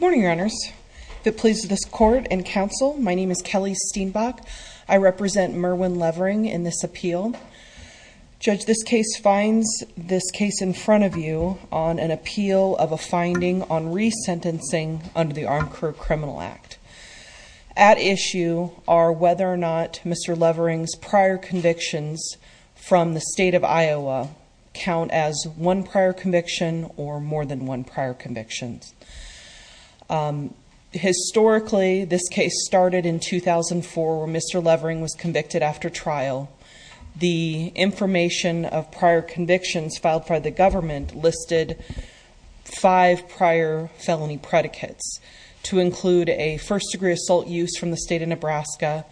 Morning your honors the police of this court and counsel. My name is Kelly steenbach. I represent Merwin Levering in this appeal Judge this case finds this case in front of you on an appeal of a finding on resentencing under the armed crew criminal act at Issue are whether or not mr. Levering's prior convictions from the state of Iowa Count as one prior conviction or more than one prior convictions Historically this case started in 2004 where mr. Levering was convicted after trial the information of prior convictions filed by the government listed Five prior felony predicates to include a first-degree assault use from the state of Nebraska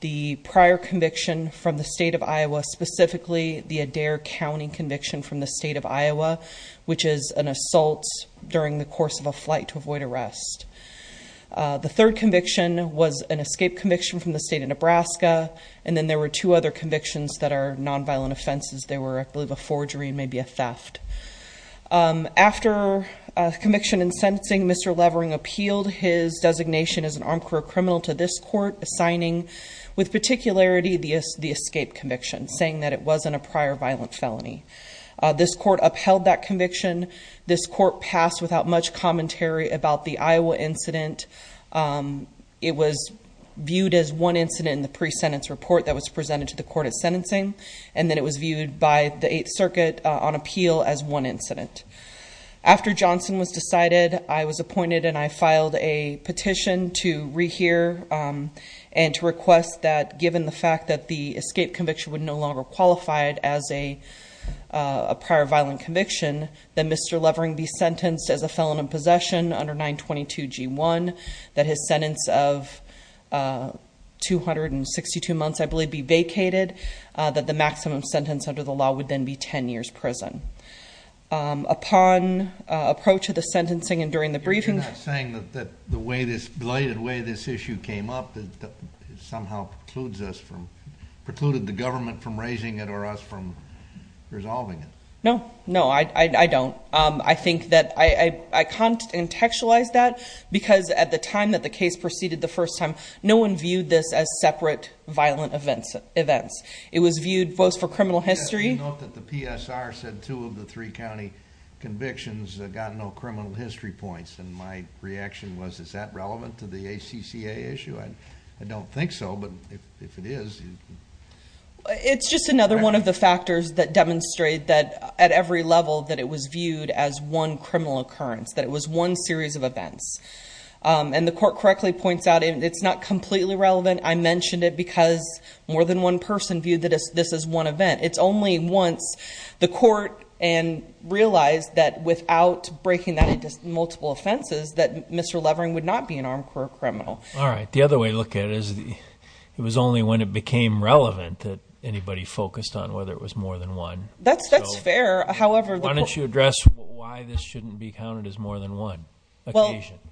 The prior conviction from the state of Iowa specifically the Adair County conviction from the state of Iowa Which is an assault during the course of a flight to avoid arrest The third conviction was an escape conviction from the state of Nebraska and then there were two other convictions that are nonviolent offenses They were I believe a forgery and maybe a theft after Conviction and sentencing. Mr. Levering appealed his designation as an armed crew criminal to this court assigning with particularity The is the escape conviction saying that it wasn't a prior violent felony This court upheld that conviction this court passed without much commentary about the Iowa incident It was viewed as one incident in the pre-sentence report that was presented to the court at sentencing And then it was viewed by the 8th Circuit on appeal as one incident After Johnson was decided I was appointed and I filed a petition to rehear and to request that given the fact that the escape conviction would no longer qualified as a Prior violent conviction then. Mr. Levering be sentenced as a felon in possession under 922 g1 that his sentence of 262 months I believe be vacated that the maximum sentence under the law would then be 10 years prison Upon Approach of the sentencing and during the briefing saying that the way this belated way this issue came up that somehow precludes us from precluded the government from raising it or us from Resolving it. No. No, I don't I think that I I can't Contextualize that because at the time that the case proceeded the first time no one viewed this as separate violent events events It was viewed both for criminal history PSR said two of the three county Convictions got no criminal history points and my reaction was is that relevant to the ACCA issue? I don't think so. But if it is It's just another one of the factors that demonstrate that at every level that it was viewed as one criminal occurrence that it was one series of events And the court correctly points out and it's not completely relevant I mentioned it because more than one person viewed that as this is one event. It's only once the court and Realized that without breaking that it just multiple offenses that mr. Levering would not be an armed criminal All right The other way look at it is the it was only when it became relevant that anybody focused on whether it was more than one That's that's fair. However, why don't you address why this shouldn't be counted as more than one?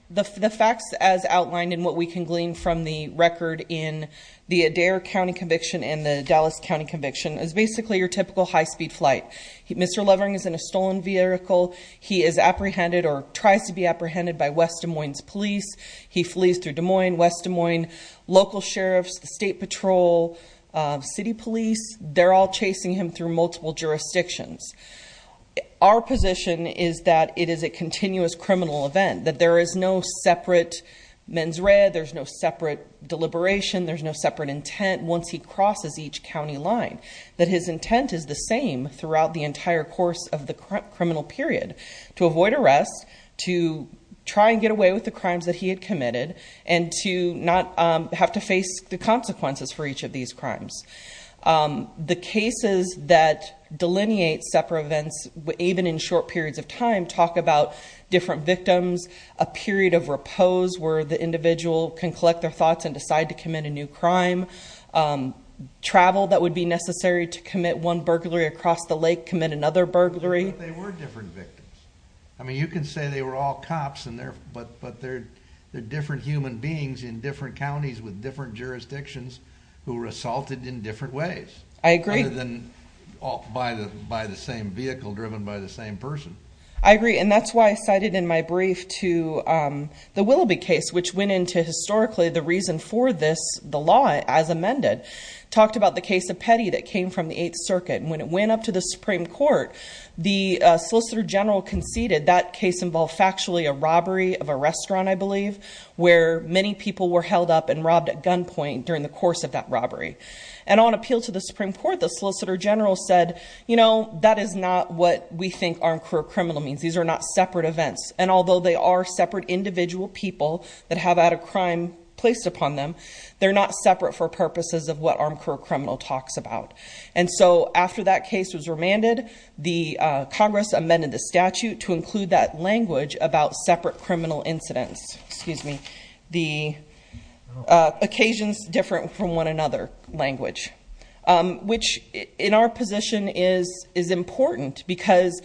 The facts as outlined in what we can glean from the record in The Adair County conviction and the Dallas County conviction is basically your typical high-speed flight. Mr Lovering is in a stolen vehicle. He is apprehended or tries to be apprehended by West Des Moines police He flees through Des Moines West Des Moines local sheriffs the state patrol City police, they're all chasing him through multiple jurisdictions Our position is that it is a continuous criminal event that there is no separate men's read there's no separate Deliberation there's no separate intent once he crosses each County line that his intent is the same throughout the entire course of the criminal period to avoid arrest to Try and get away with the crimes that he had committed and to not have to face the consequences for each of these crimes the cases that delineate separate events even in short periods of time talk about different victims a Period of repose where the individual can collect their thoughts and decide to commit a new crime Travel that would be necessary to commit one burglary across the lake commit another burglary They were different victims I mean you can say they were all cops and there but but they're they're different human beings in different counties with different jurisdictions who were assaulted in different ways I agree than By the by the same vehicle driven by the same person. I agree and that's why I cited in my brief to The Willoughby case which went into historically the reason for this the law as amended talked about the case of petty that came from the 8th Circuit and when it went up to the Supreme Court the Solicitor General conceded that case involved factually a robbery of a restaurant I believe where many people were held up and robbed at gunpoint during the course of that robbery and On appeal to the Supreme Court the Solicitor General said, you know, that is not what we think our career criminal means These are not separate events and although they are separate individual people that have had a crime placed upon them they're not separate for purposes of what our career criminal talks about and so after that case was remanded the Congress amended the statute to include that language about separate criminal incidents. Excuse me the Occasions different from one another language which in our position is is important because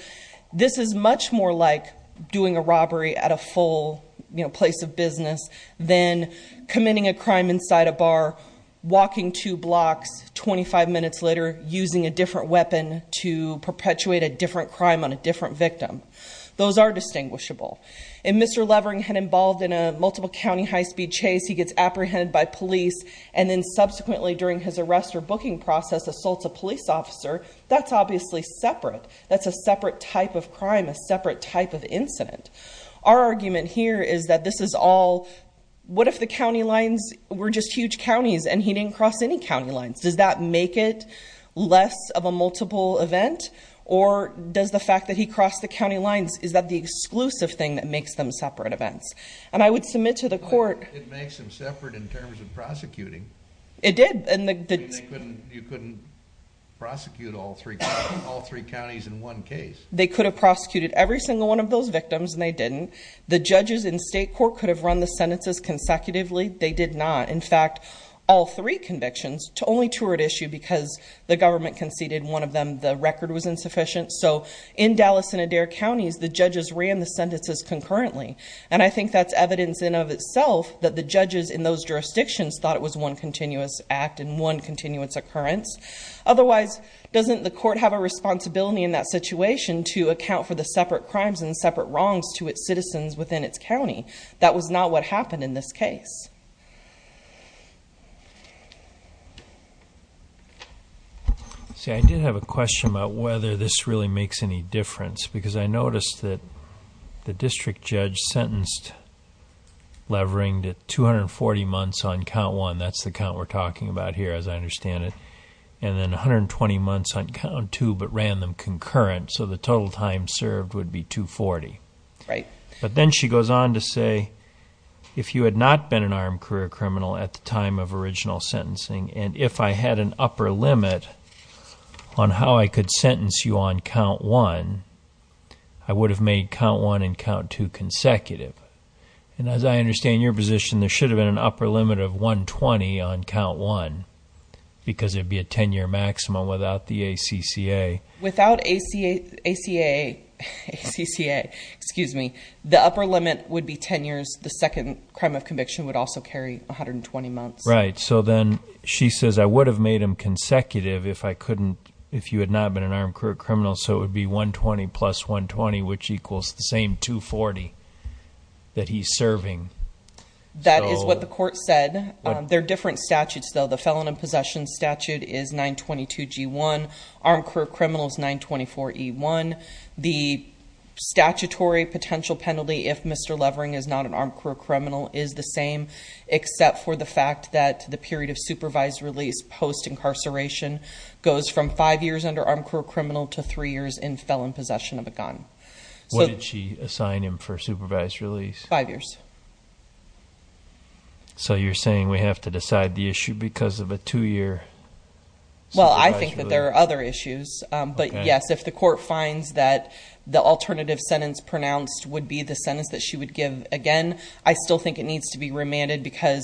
This is much more like doing a robbery at a full, you know place of business then Committing a crime inside a bar walking two blocks 25 minutes later using a different weapon to perpetuate a different crime on a different victim. Those are distinguishable And mr. Levering had involved in a multiple County high-speed chase He gets apprehended by police and then subsequently during his arrest or booking process assaults a police officer. That's obviously separate That's a separate type of crime a separate type of incident. Our argument here is that this is all What if the county lines were just huge counties and he didn't cross any county lines. Does that make it less of a multiple event or Does the fact that he crossed the county lines is that the exclusive thing that makes them separate events and I would submit to the court Separate in terms of prosecuting it did and the good you couldn't Prosecute all three all three counties in one case They could have prosecuted every single one of those victims and they didn't the judges in state court could have run the sentences consecutively They did not in fact all three convictions to only two were at issue because the government conceded one of them The record was insufficient So in Dallas and Adair counties the judges ran the sentences concurrently and I think that's evidence in of itself That the judges in those jurisdictions thought it was one continuous act and one continuous occurrence Otherwise doesn't the court have a responsibility in that situation to account for the separate crimes and separate wrongs to its citizens within its county That was not what happened in this case See I did have a question about whether this really makes any difference because I noticed that the district judge sentenced Levering to 240 months on count one. That's the count we're talking about here as I understand it and then 120 months on count two, but ran them concurrent. So the total time served would be 240, right? but then she goes on to say If you had not been an armed career criminal at the time of original sentencing and if I had an upper limit On how I could sentence you on count one. I Would have made count one and count two consecutive And as I understand your position, there should have been an upper limit of 120 on count one Because it'd be a 10-year maximum without the ACCA without ACA ACA CCA excuse me The upper limit would be 10 years the second crime of conviction would also carry 120 months, right? So then she says I would have made him consecutive if I couldn't if you had not been an armed career criminal So it would be 120 plus 120 which equals the same 240 that he's serving That is what the court said. There are different statutes though. The felon in possession statute is 922 g1 armed career criminals 924 e1 the Statutory potential penalty if mr. Levering is not an armed career criminal is the same Except for the fact that the period of supervised release post incarceration Goes from five years under armed career criminal to three years in felon possession of a gun So did she assign him for supervised release five years So you're saying we have to decide the issue because of a two-year Well, I think that there are other issues But yes If the court finds that the alternative sentence pronounced would be the sentence that she would give again I still think it needs to be remanded because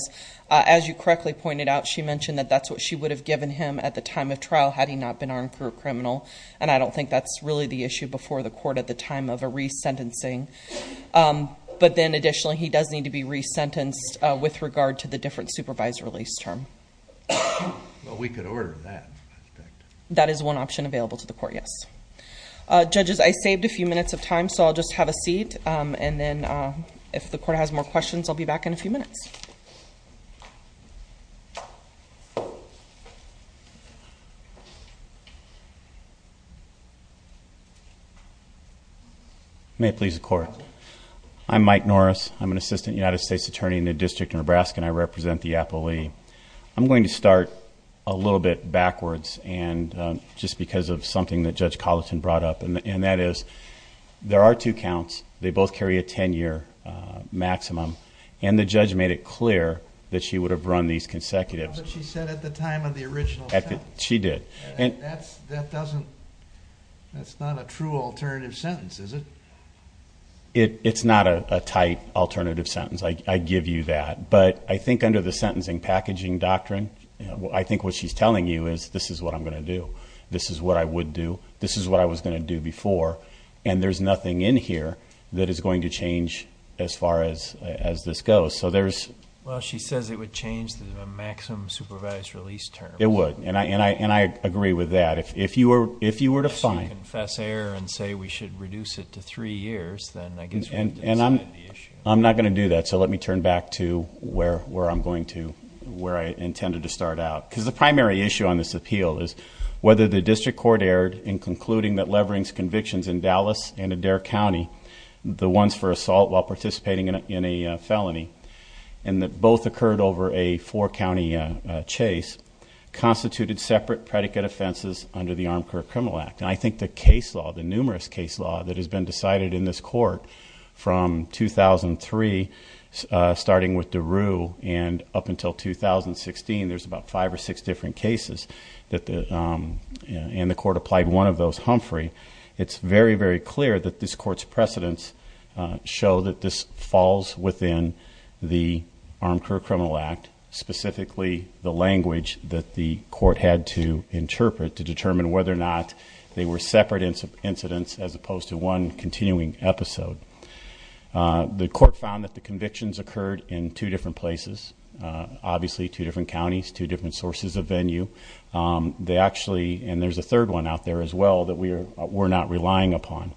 as you correctly pointed out She mentioned that that's what she would have given him at the time of trial Had he not been armed career criminal and I don't think that's really the issue before the court at the time of a resentencing But then additionally he does need to be resentenced with regard to the different supervised release term That is one option available to the court, yes Judges, I saved a few minutes of time. So I'll just have a seat and then if the court has more questions I'll be back in a few minutes I May please the court I'm Mike Norris. I'm an assistant United States attorney in the District of Nebraska and I represent the appellee I'm going to start a little bit backwards and Just because of something that judge Colleton brought up and that is There are two counts. They both carry a 10-year Maximum and the judge made it clear that she would have run these consecutives She said at the time of the original she did and that's that doesn't That's not a true alternative sentence. Is it? It it's not a tight alternative sentence I give you that but I think under the sentencing packaging doctrine You know, I think what she's telling you is this is what I'm gonna do. This is what I would do This is what I was gonna do before and there's nothing in here that is going to change as far as as this goes So there's well she says it would change the Maximum supervised release term it would and I and I and I agree with that if you were if you were to find That's error and say we should reduce it to three years. Then I guess and and I'm I'm not gonna do that so let me turn back to where where I'm going to where I intended to start out because the primary issue on this appeal is Whether the district court erred in concluding that leverings convictions in Dallas and Adair County The ones for assault while participating in a felony and that both occurred over a four-county chase Constituted separate predicate offenses under the Armed Career Criminal Act And I think the case law the numerous case law that has been decided in this court from 2003 starting with Daru and up until 2016 there's about five or six different cases that the And the court applied one of those Humphrey, it's very very clear that this court's precedents Show that this falls within the Armed Career Criminal Act Specifically the language that the court had to interpret to determine whether or not they were separate incidents as opposed to one continuing episode The court found that the convictions occurred in two different places Obviously two different counties two different sources of venue They actually and there's a third one out there as well that we are we're not relying upon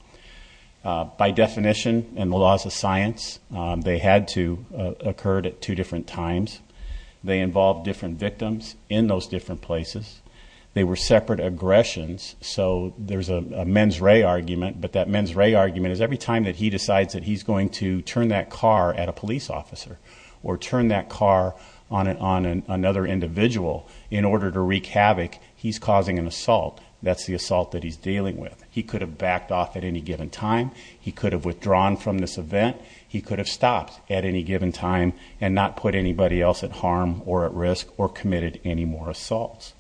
By definition and the laws of science they had to occurred at two different times They involved different victims in those different places. They were separate aggressions so there's a men's ray argument but that men's ray argument is every time that he decides that he's going to turn that car at A police officer or turn that car on and on and another individual in order to wreak havoc He's causing an assault. That's the assault that he's dealing with. He could have backed off at any given time He could have withdrawn from this event He could have stopped at any given time and not put anybody else at harm or at risk or committed any more assaults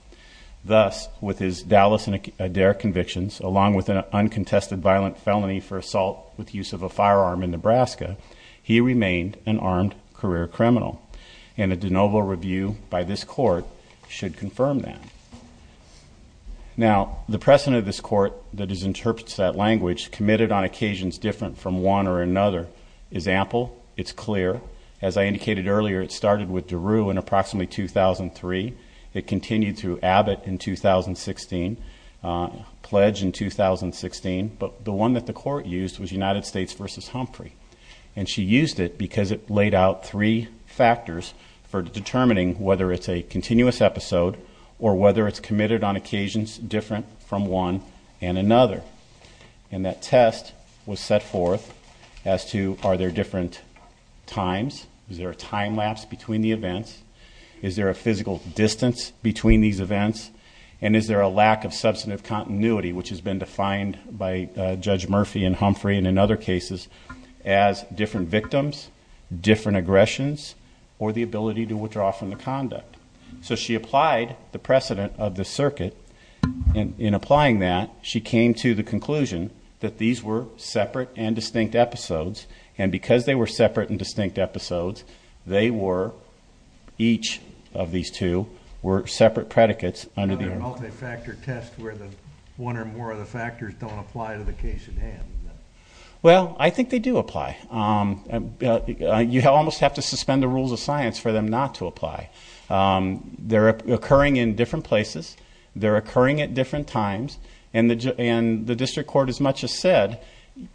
Thus with his Dallas and Adair convictions along with an uncontested violent felony for assault with use of a firearm in, Nebraska He remained an armed career criminal and a de novo review by this court should confirm that Now the precedent of this court that is interprets that language committed on occasions different from one or another is ample It's clear as I indicated earlier. It started with Daru in approximately 2003. It continued through Abbott in 2016 Pledge in 2016 but the one that the court used was United States versus Humphrey and she used it because it laid out three factors for determining whether it's a continuous episode or whether it's committed on occasions different from one and another and That test was set forth as to are there different Times is there a time lapse between the events? Is there a physical distance between these events and is there a lack of substantive continuity which has been defined by Judge Murphy and Humphrey and in other cases as different victims Different aggressions or the ability to withdraw from the conduct. So she applied the precedent of the circuit In applying that she came to the conclusion that these were separate and distinct episodes and because they were separate and distinct episodes they were Each of these two were separate predicates under the multifactor test where the one or more of the factors don't apply Well, I think they do apply You almost have to suspend the rules of science for them not to apply They're occurring in different places They're occurring at different times and the and the district court as much as said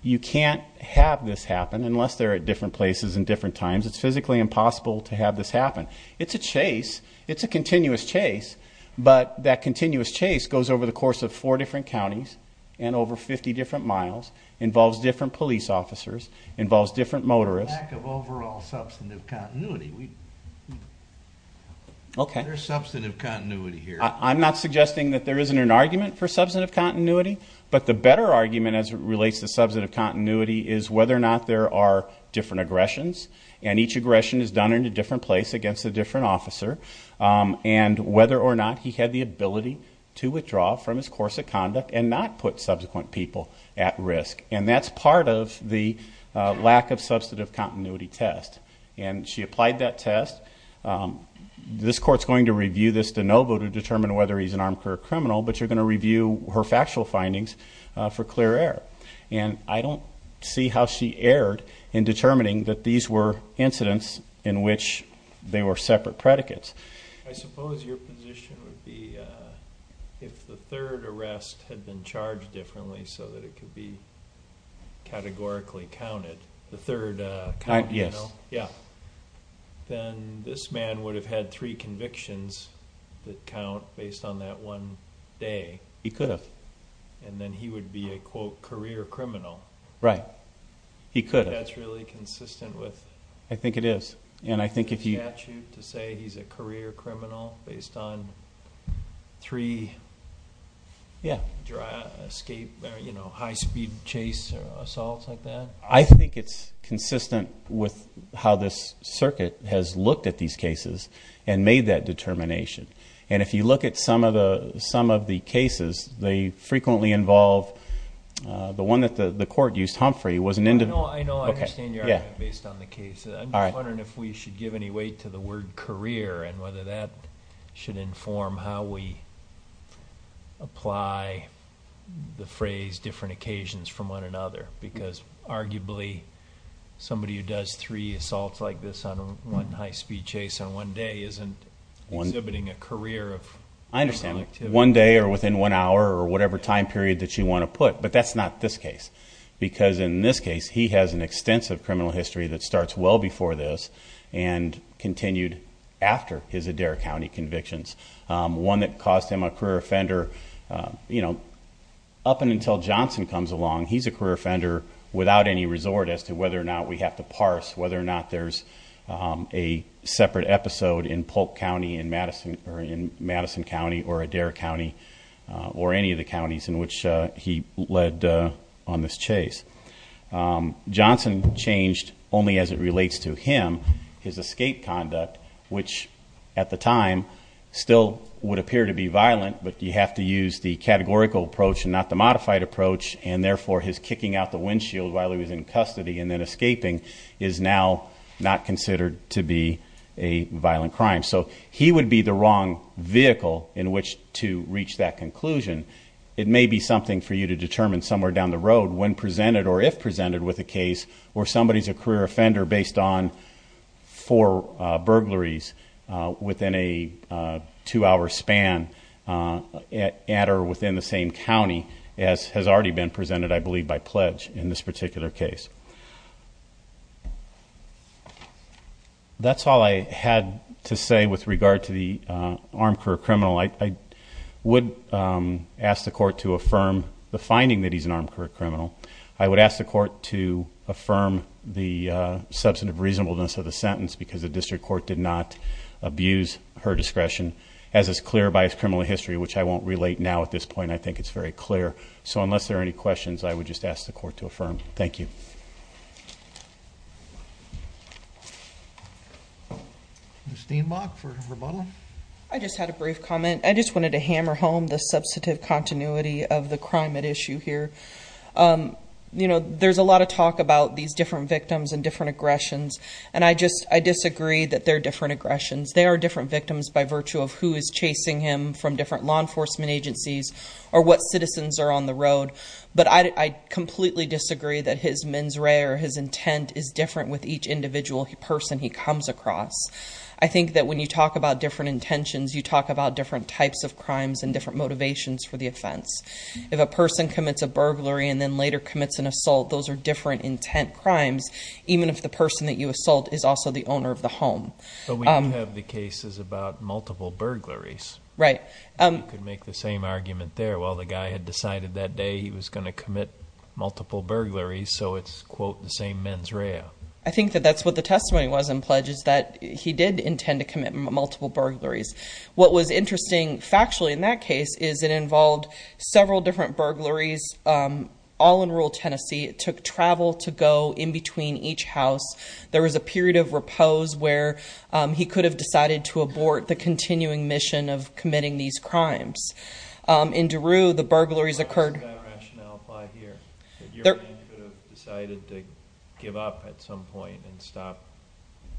You can't have this happen unless they're at different places in different times It's physically impossible to have this happen. It's a chase It's a continuous chase But that continuous chase goes over the course of four different counties and over 50 different miles involves different police officers involves different motorists of overall substantive continuity we Okay, there's substantive continuity here I'm not suggesting that there isn't an argument for substantive continuity but the better argument as it relates to substantive continuity is whether or not there are Different aggressions and each aggression is done in a different place against a different officer And whether or not he had the ability to withdraw from his course of conduct and not put subsequent people at risk and that's part of the Lack of substantive continuity test and she applied that test This courts going to review this de novo to determine whether he's an armed career criminal But you're going to review her factual findings for clear air and I don't see how she erred in Determining that these were incidents in which they were separate predicates If the third arrest had been charged differently so that it could be Categorically counted the third time. Yes. Yeah Then this man would have had three convictions that count based on that one He could have and then he would be a quote career criminal, right? He could that's really consistent with I think it is and I think if you have to say he's a career criminal based on three Yeah Escape, you know high-speed chase assaults like that I think it's consistent with how this circuit has looked at these cases and made that The cases they frequently involve The one that the the court used Humphrey was an end. Oh, I know All right, if we should give any weight to the word career and whether that should inform how we Apply the phrase different occasions from one another because arguably Somebody who does three assaults like this on one high-speed chase on one day isn't one exhibiting a career of I understand One day or within one hour or whatever time period that you want to put but that's not this case because in this case, he has an extensive criminal history that starts well before this and Continued after his Adair County convictions one that caused him a career offender You know up and until Johnson comes along he's a career offender without any resort as to whether or not we have to parse whether or not there's a Episode in Polk County in Madison or in Madison County or Adair County Or any of the counties in which he led on this chase Johnson changed only as it relates to him his escape conduct which at the time Still would appear to be violent but you have to use the Categorical approach and not the modified approach and therefore his kicking out the windshield while he was in custody and then escaping is now Not considered to be a Violent crime so he would be the wrong vehicle in which to reach that conclusion It may be something for you to determine somewhere down the road when presented or if presented with a case or somebody's a career offender based on for burglaries within a two-hour span At or within the same County as has already been presented. I believe by pledge in this particular case That's all I had to say with regard to the armed career criminal I Would ask the court to affirm the finding that he's an armed career criminal. I would ask the court to affirm the substantive reasonableness of the sentence because the district court did not Abuse her discretion as it's clear by his criminal history, which I won't relate now at this point I think it's very clear. So unless there are any questions, I would just ask the court to affirm. Thank you I Just had a brief comment, I just wanted to hammer home the substantive continuity of the crime at issue here You know, there's a lot of talk about these different victims and different aggressions And I just I disagree that they're different aggressions They are different victims by virtue of who is chasing him from different law enforcement agencies or what citizens are on the road But I Completely disagree that his mens rea or his intent is different with each individual person. He comes across I think that when you talk about different intentions you talk about different types of crimes and different motivations for the offense If a person commits a burglary and then later commits an assault Those are different intent crimes, even if the person that you assault is also the owner of the home But we have the cases about multiple burglaries, right? Could make the same argument there while the guy had decided that day he was going to commit multiple burglaries So it's quote the same mens rea I think that that's what the testimony was in pledges that he did intend to commit multiple burglaries What was interesting factually in that case is it involved several different burglaries? All in rural, Tennessee. It took travel to go in between each house There was a period of repose where he could have decided to abort the continuing mission of committing these crimes in Daru the burglaries occurred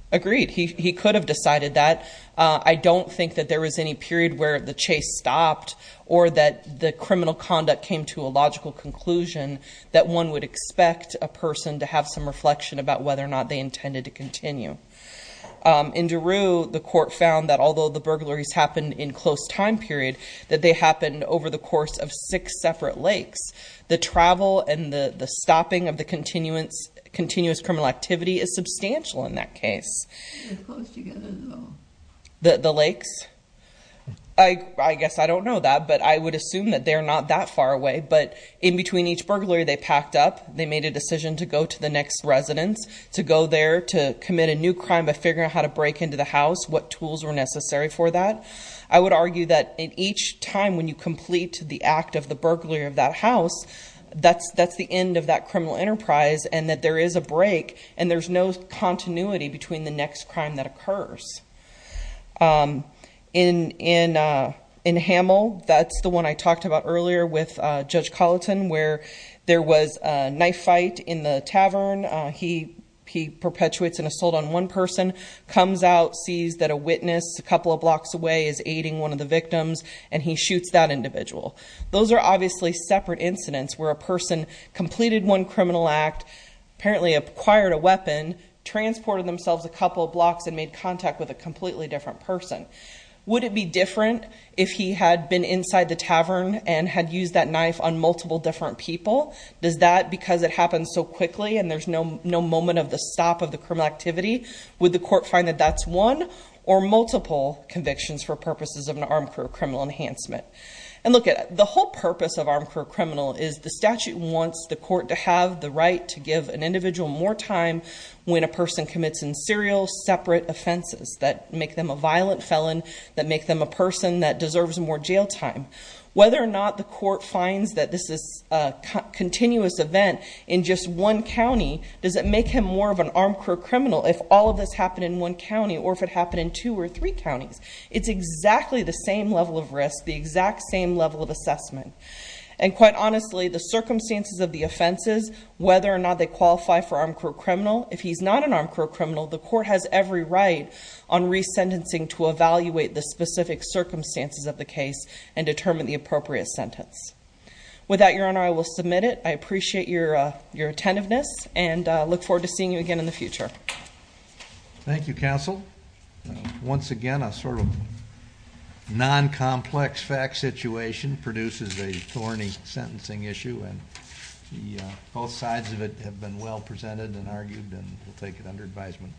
Agreed he could have decided that I don't think that there was any period where the chase stopped or that the criminal conduct came to a logical conclusion that One would expect a person to have some reflection about whether or not they intended to continue In Daru the court found that although the burglaries happened in close time period that they happened over the course of six separate lakes The travel and the the stopping of the continuance continuous criminal activity is substantial in that case The the lakes I Guess I don't know that but I would assume that they're not that far away But in between each burglary they packed up They made a decision to go to the next Residence to go there to commit a new crime by figuring out how to break into the house What tools were necessary for that? I would argue that in each time when you complete the act of the burglary of that house That's that's the end of that criminal enterprise and that there is a break and there's no continuity between the next crime that occurs in in In Hamel, that's the one I talked about earlier with judge Colleton where there was a knife fight in the tavern He he perpetuates an assault on one person Comes out sees that a witness a couple of blocks away is aiding one of the victims and he shoots that individual Those are obviously separate incidents where a person completed one criminal act Apparently acquired a weapon Transported themselves a couple of blocks and made contact with a completely different person Would it be different if he had been inside the tavern and had used that knife on multiple different people Does that because it happens so quickly and there's no no moment of the stop of the criminal activity with the court find that that's one or multiple convictions for purposes of an armed career criminal enhancement And look at the whole purpose of armed career criminal is the statute wants the court to have the right to give an individual When a person commits in serial separate offenses that make them a violent felon that make them a person that deserves more jail time whether or not the court finds that this is a Continuous event in just one County Does it make him more of an armed career criminal if all of this happened in one County or if it happened in two? Or three counties, it's exactly the same level of risk the exact same level of assessment and quite honestly the circumstances of the offenses Whether or not they qualify for armed career criminal if he's not an armed career criminal The court has every right on resentencing to evaluate the specific circumstances of the case and determine the appropriate sentence With that your honor. I will submit it. I appreciate your your attentiveness and look forward to seeing you again in the future Thank You counsel once again a sort of non-complex fact situation produces a thorny sentencing issue and Both sides of it have been well presented and argued and we'll take it under advisement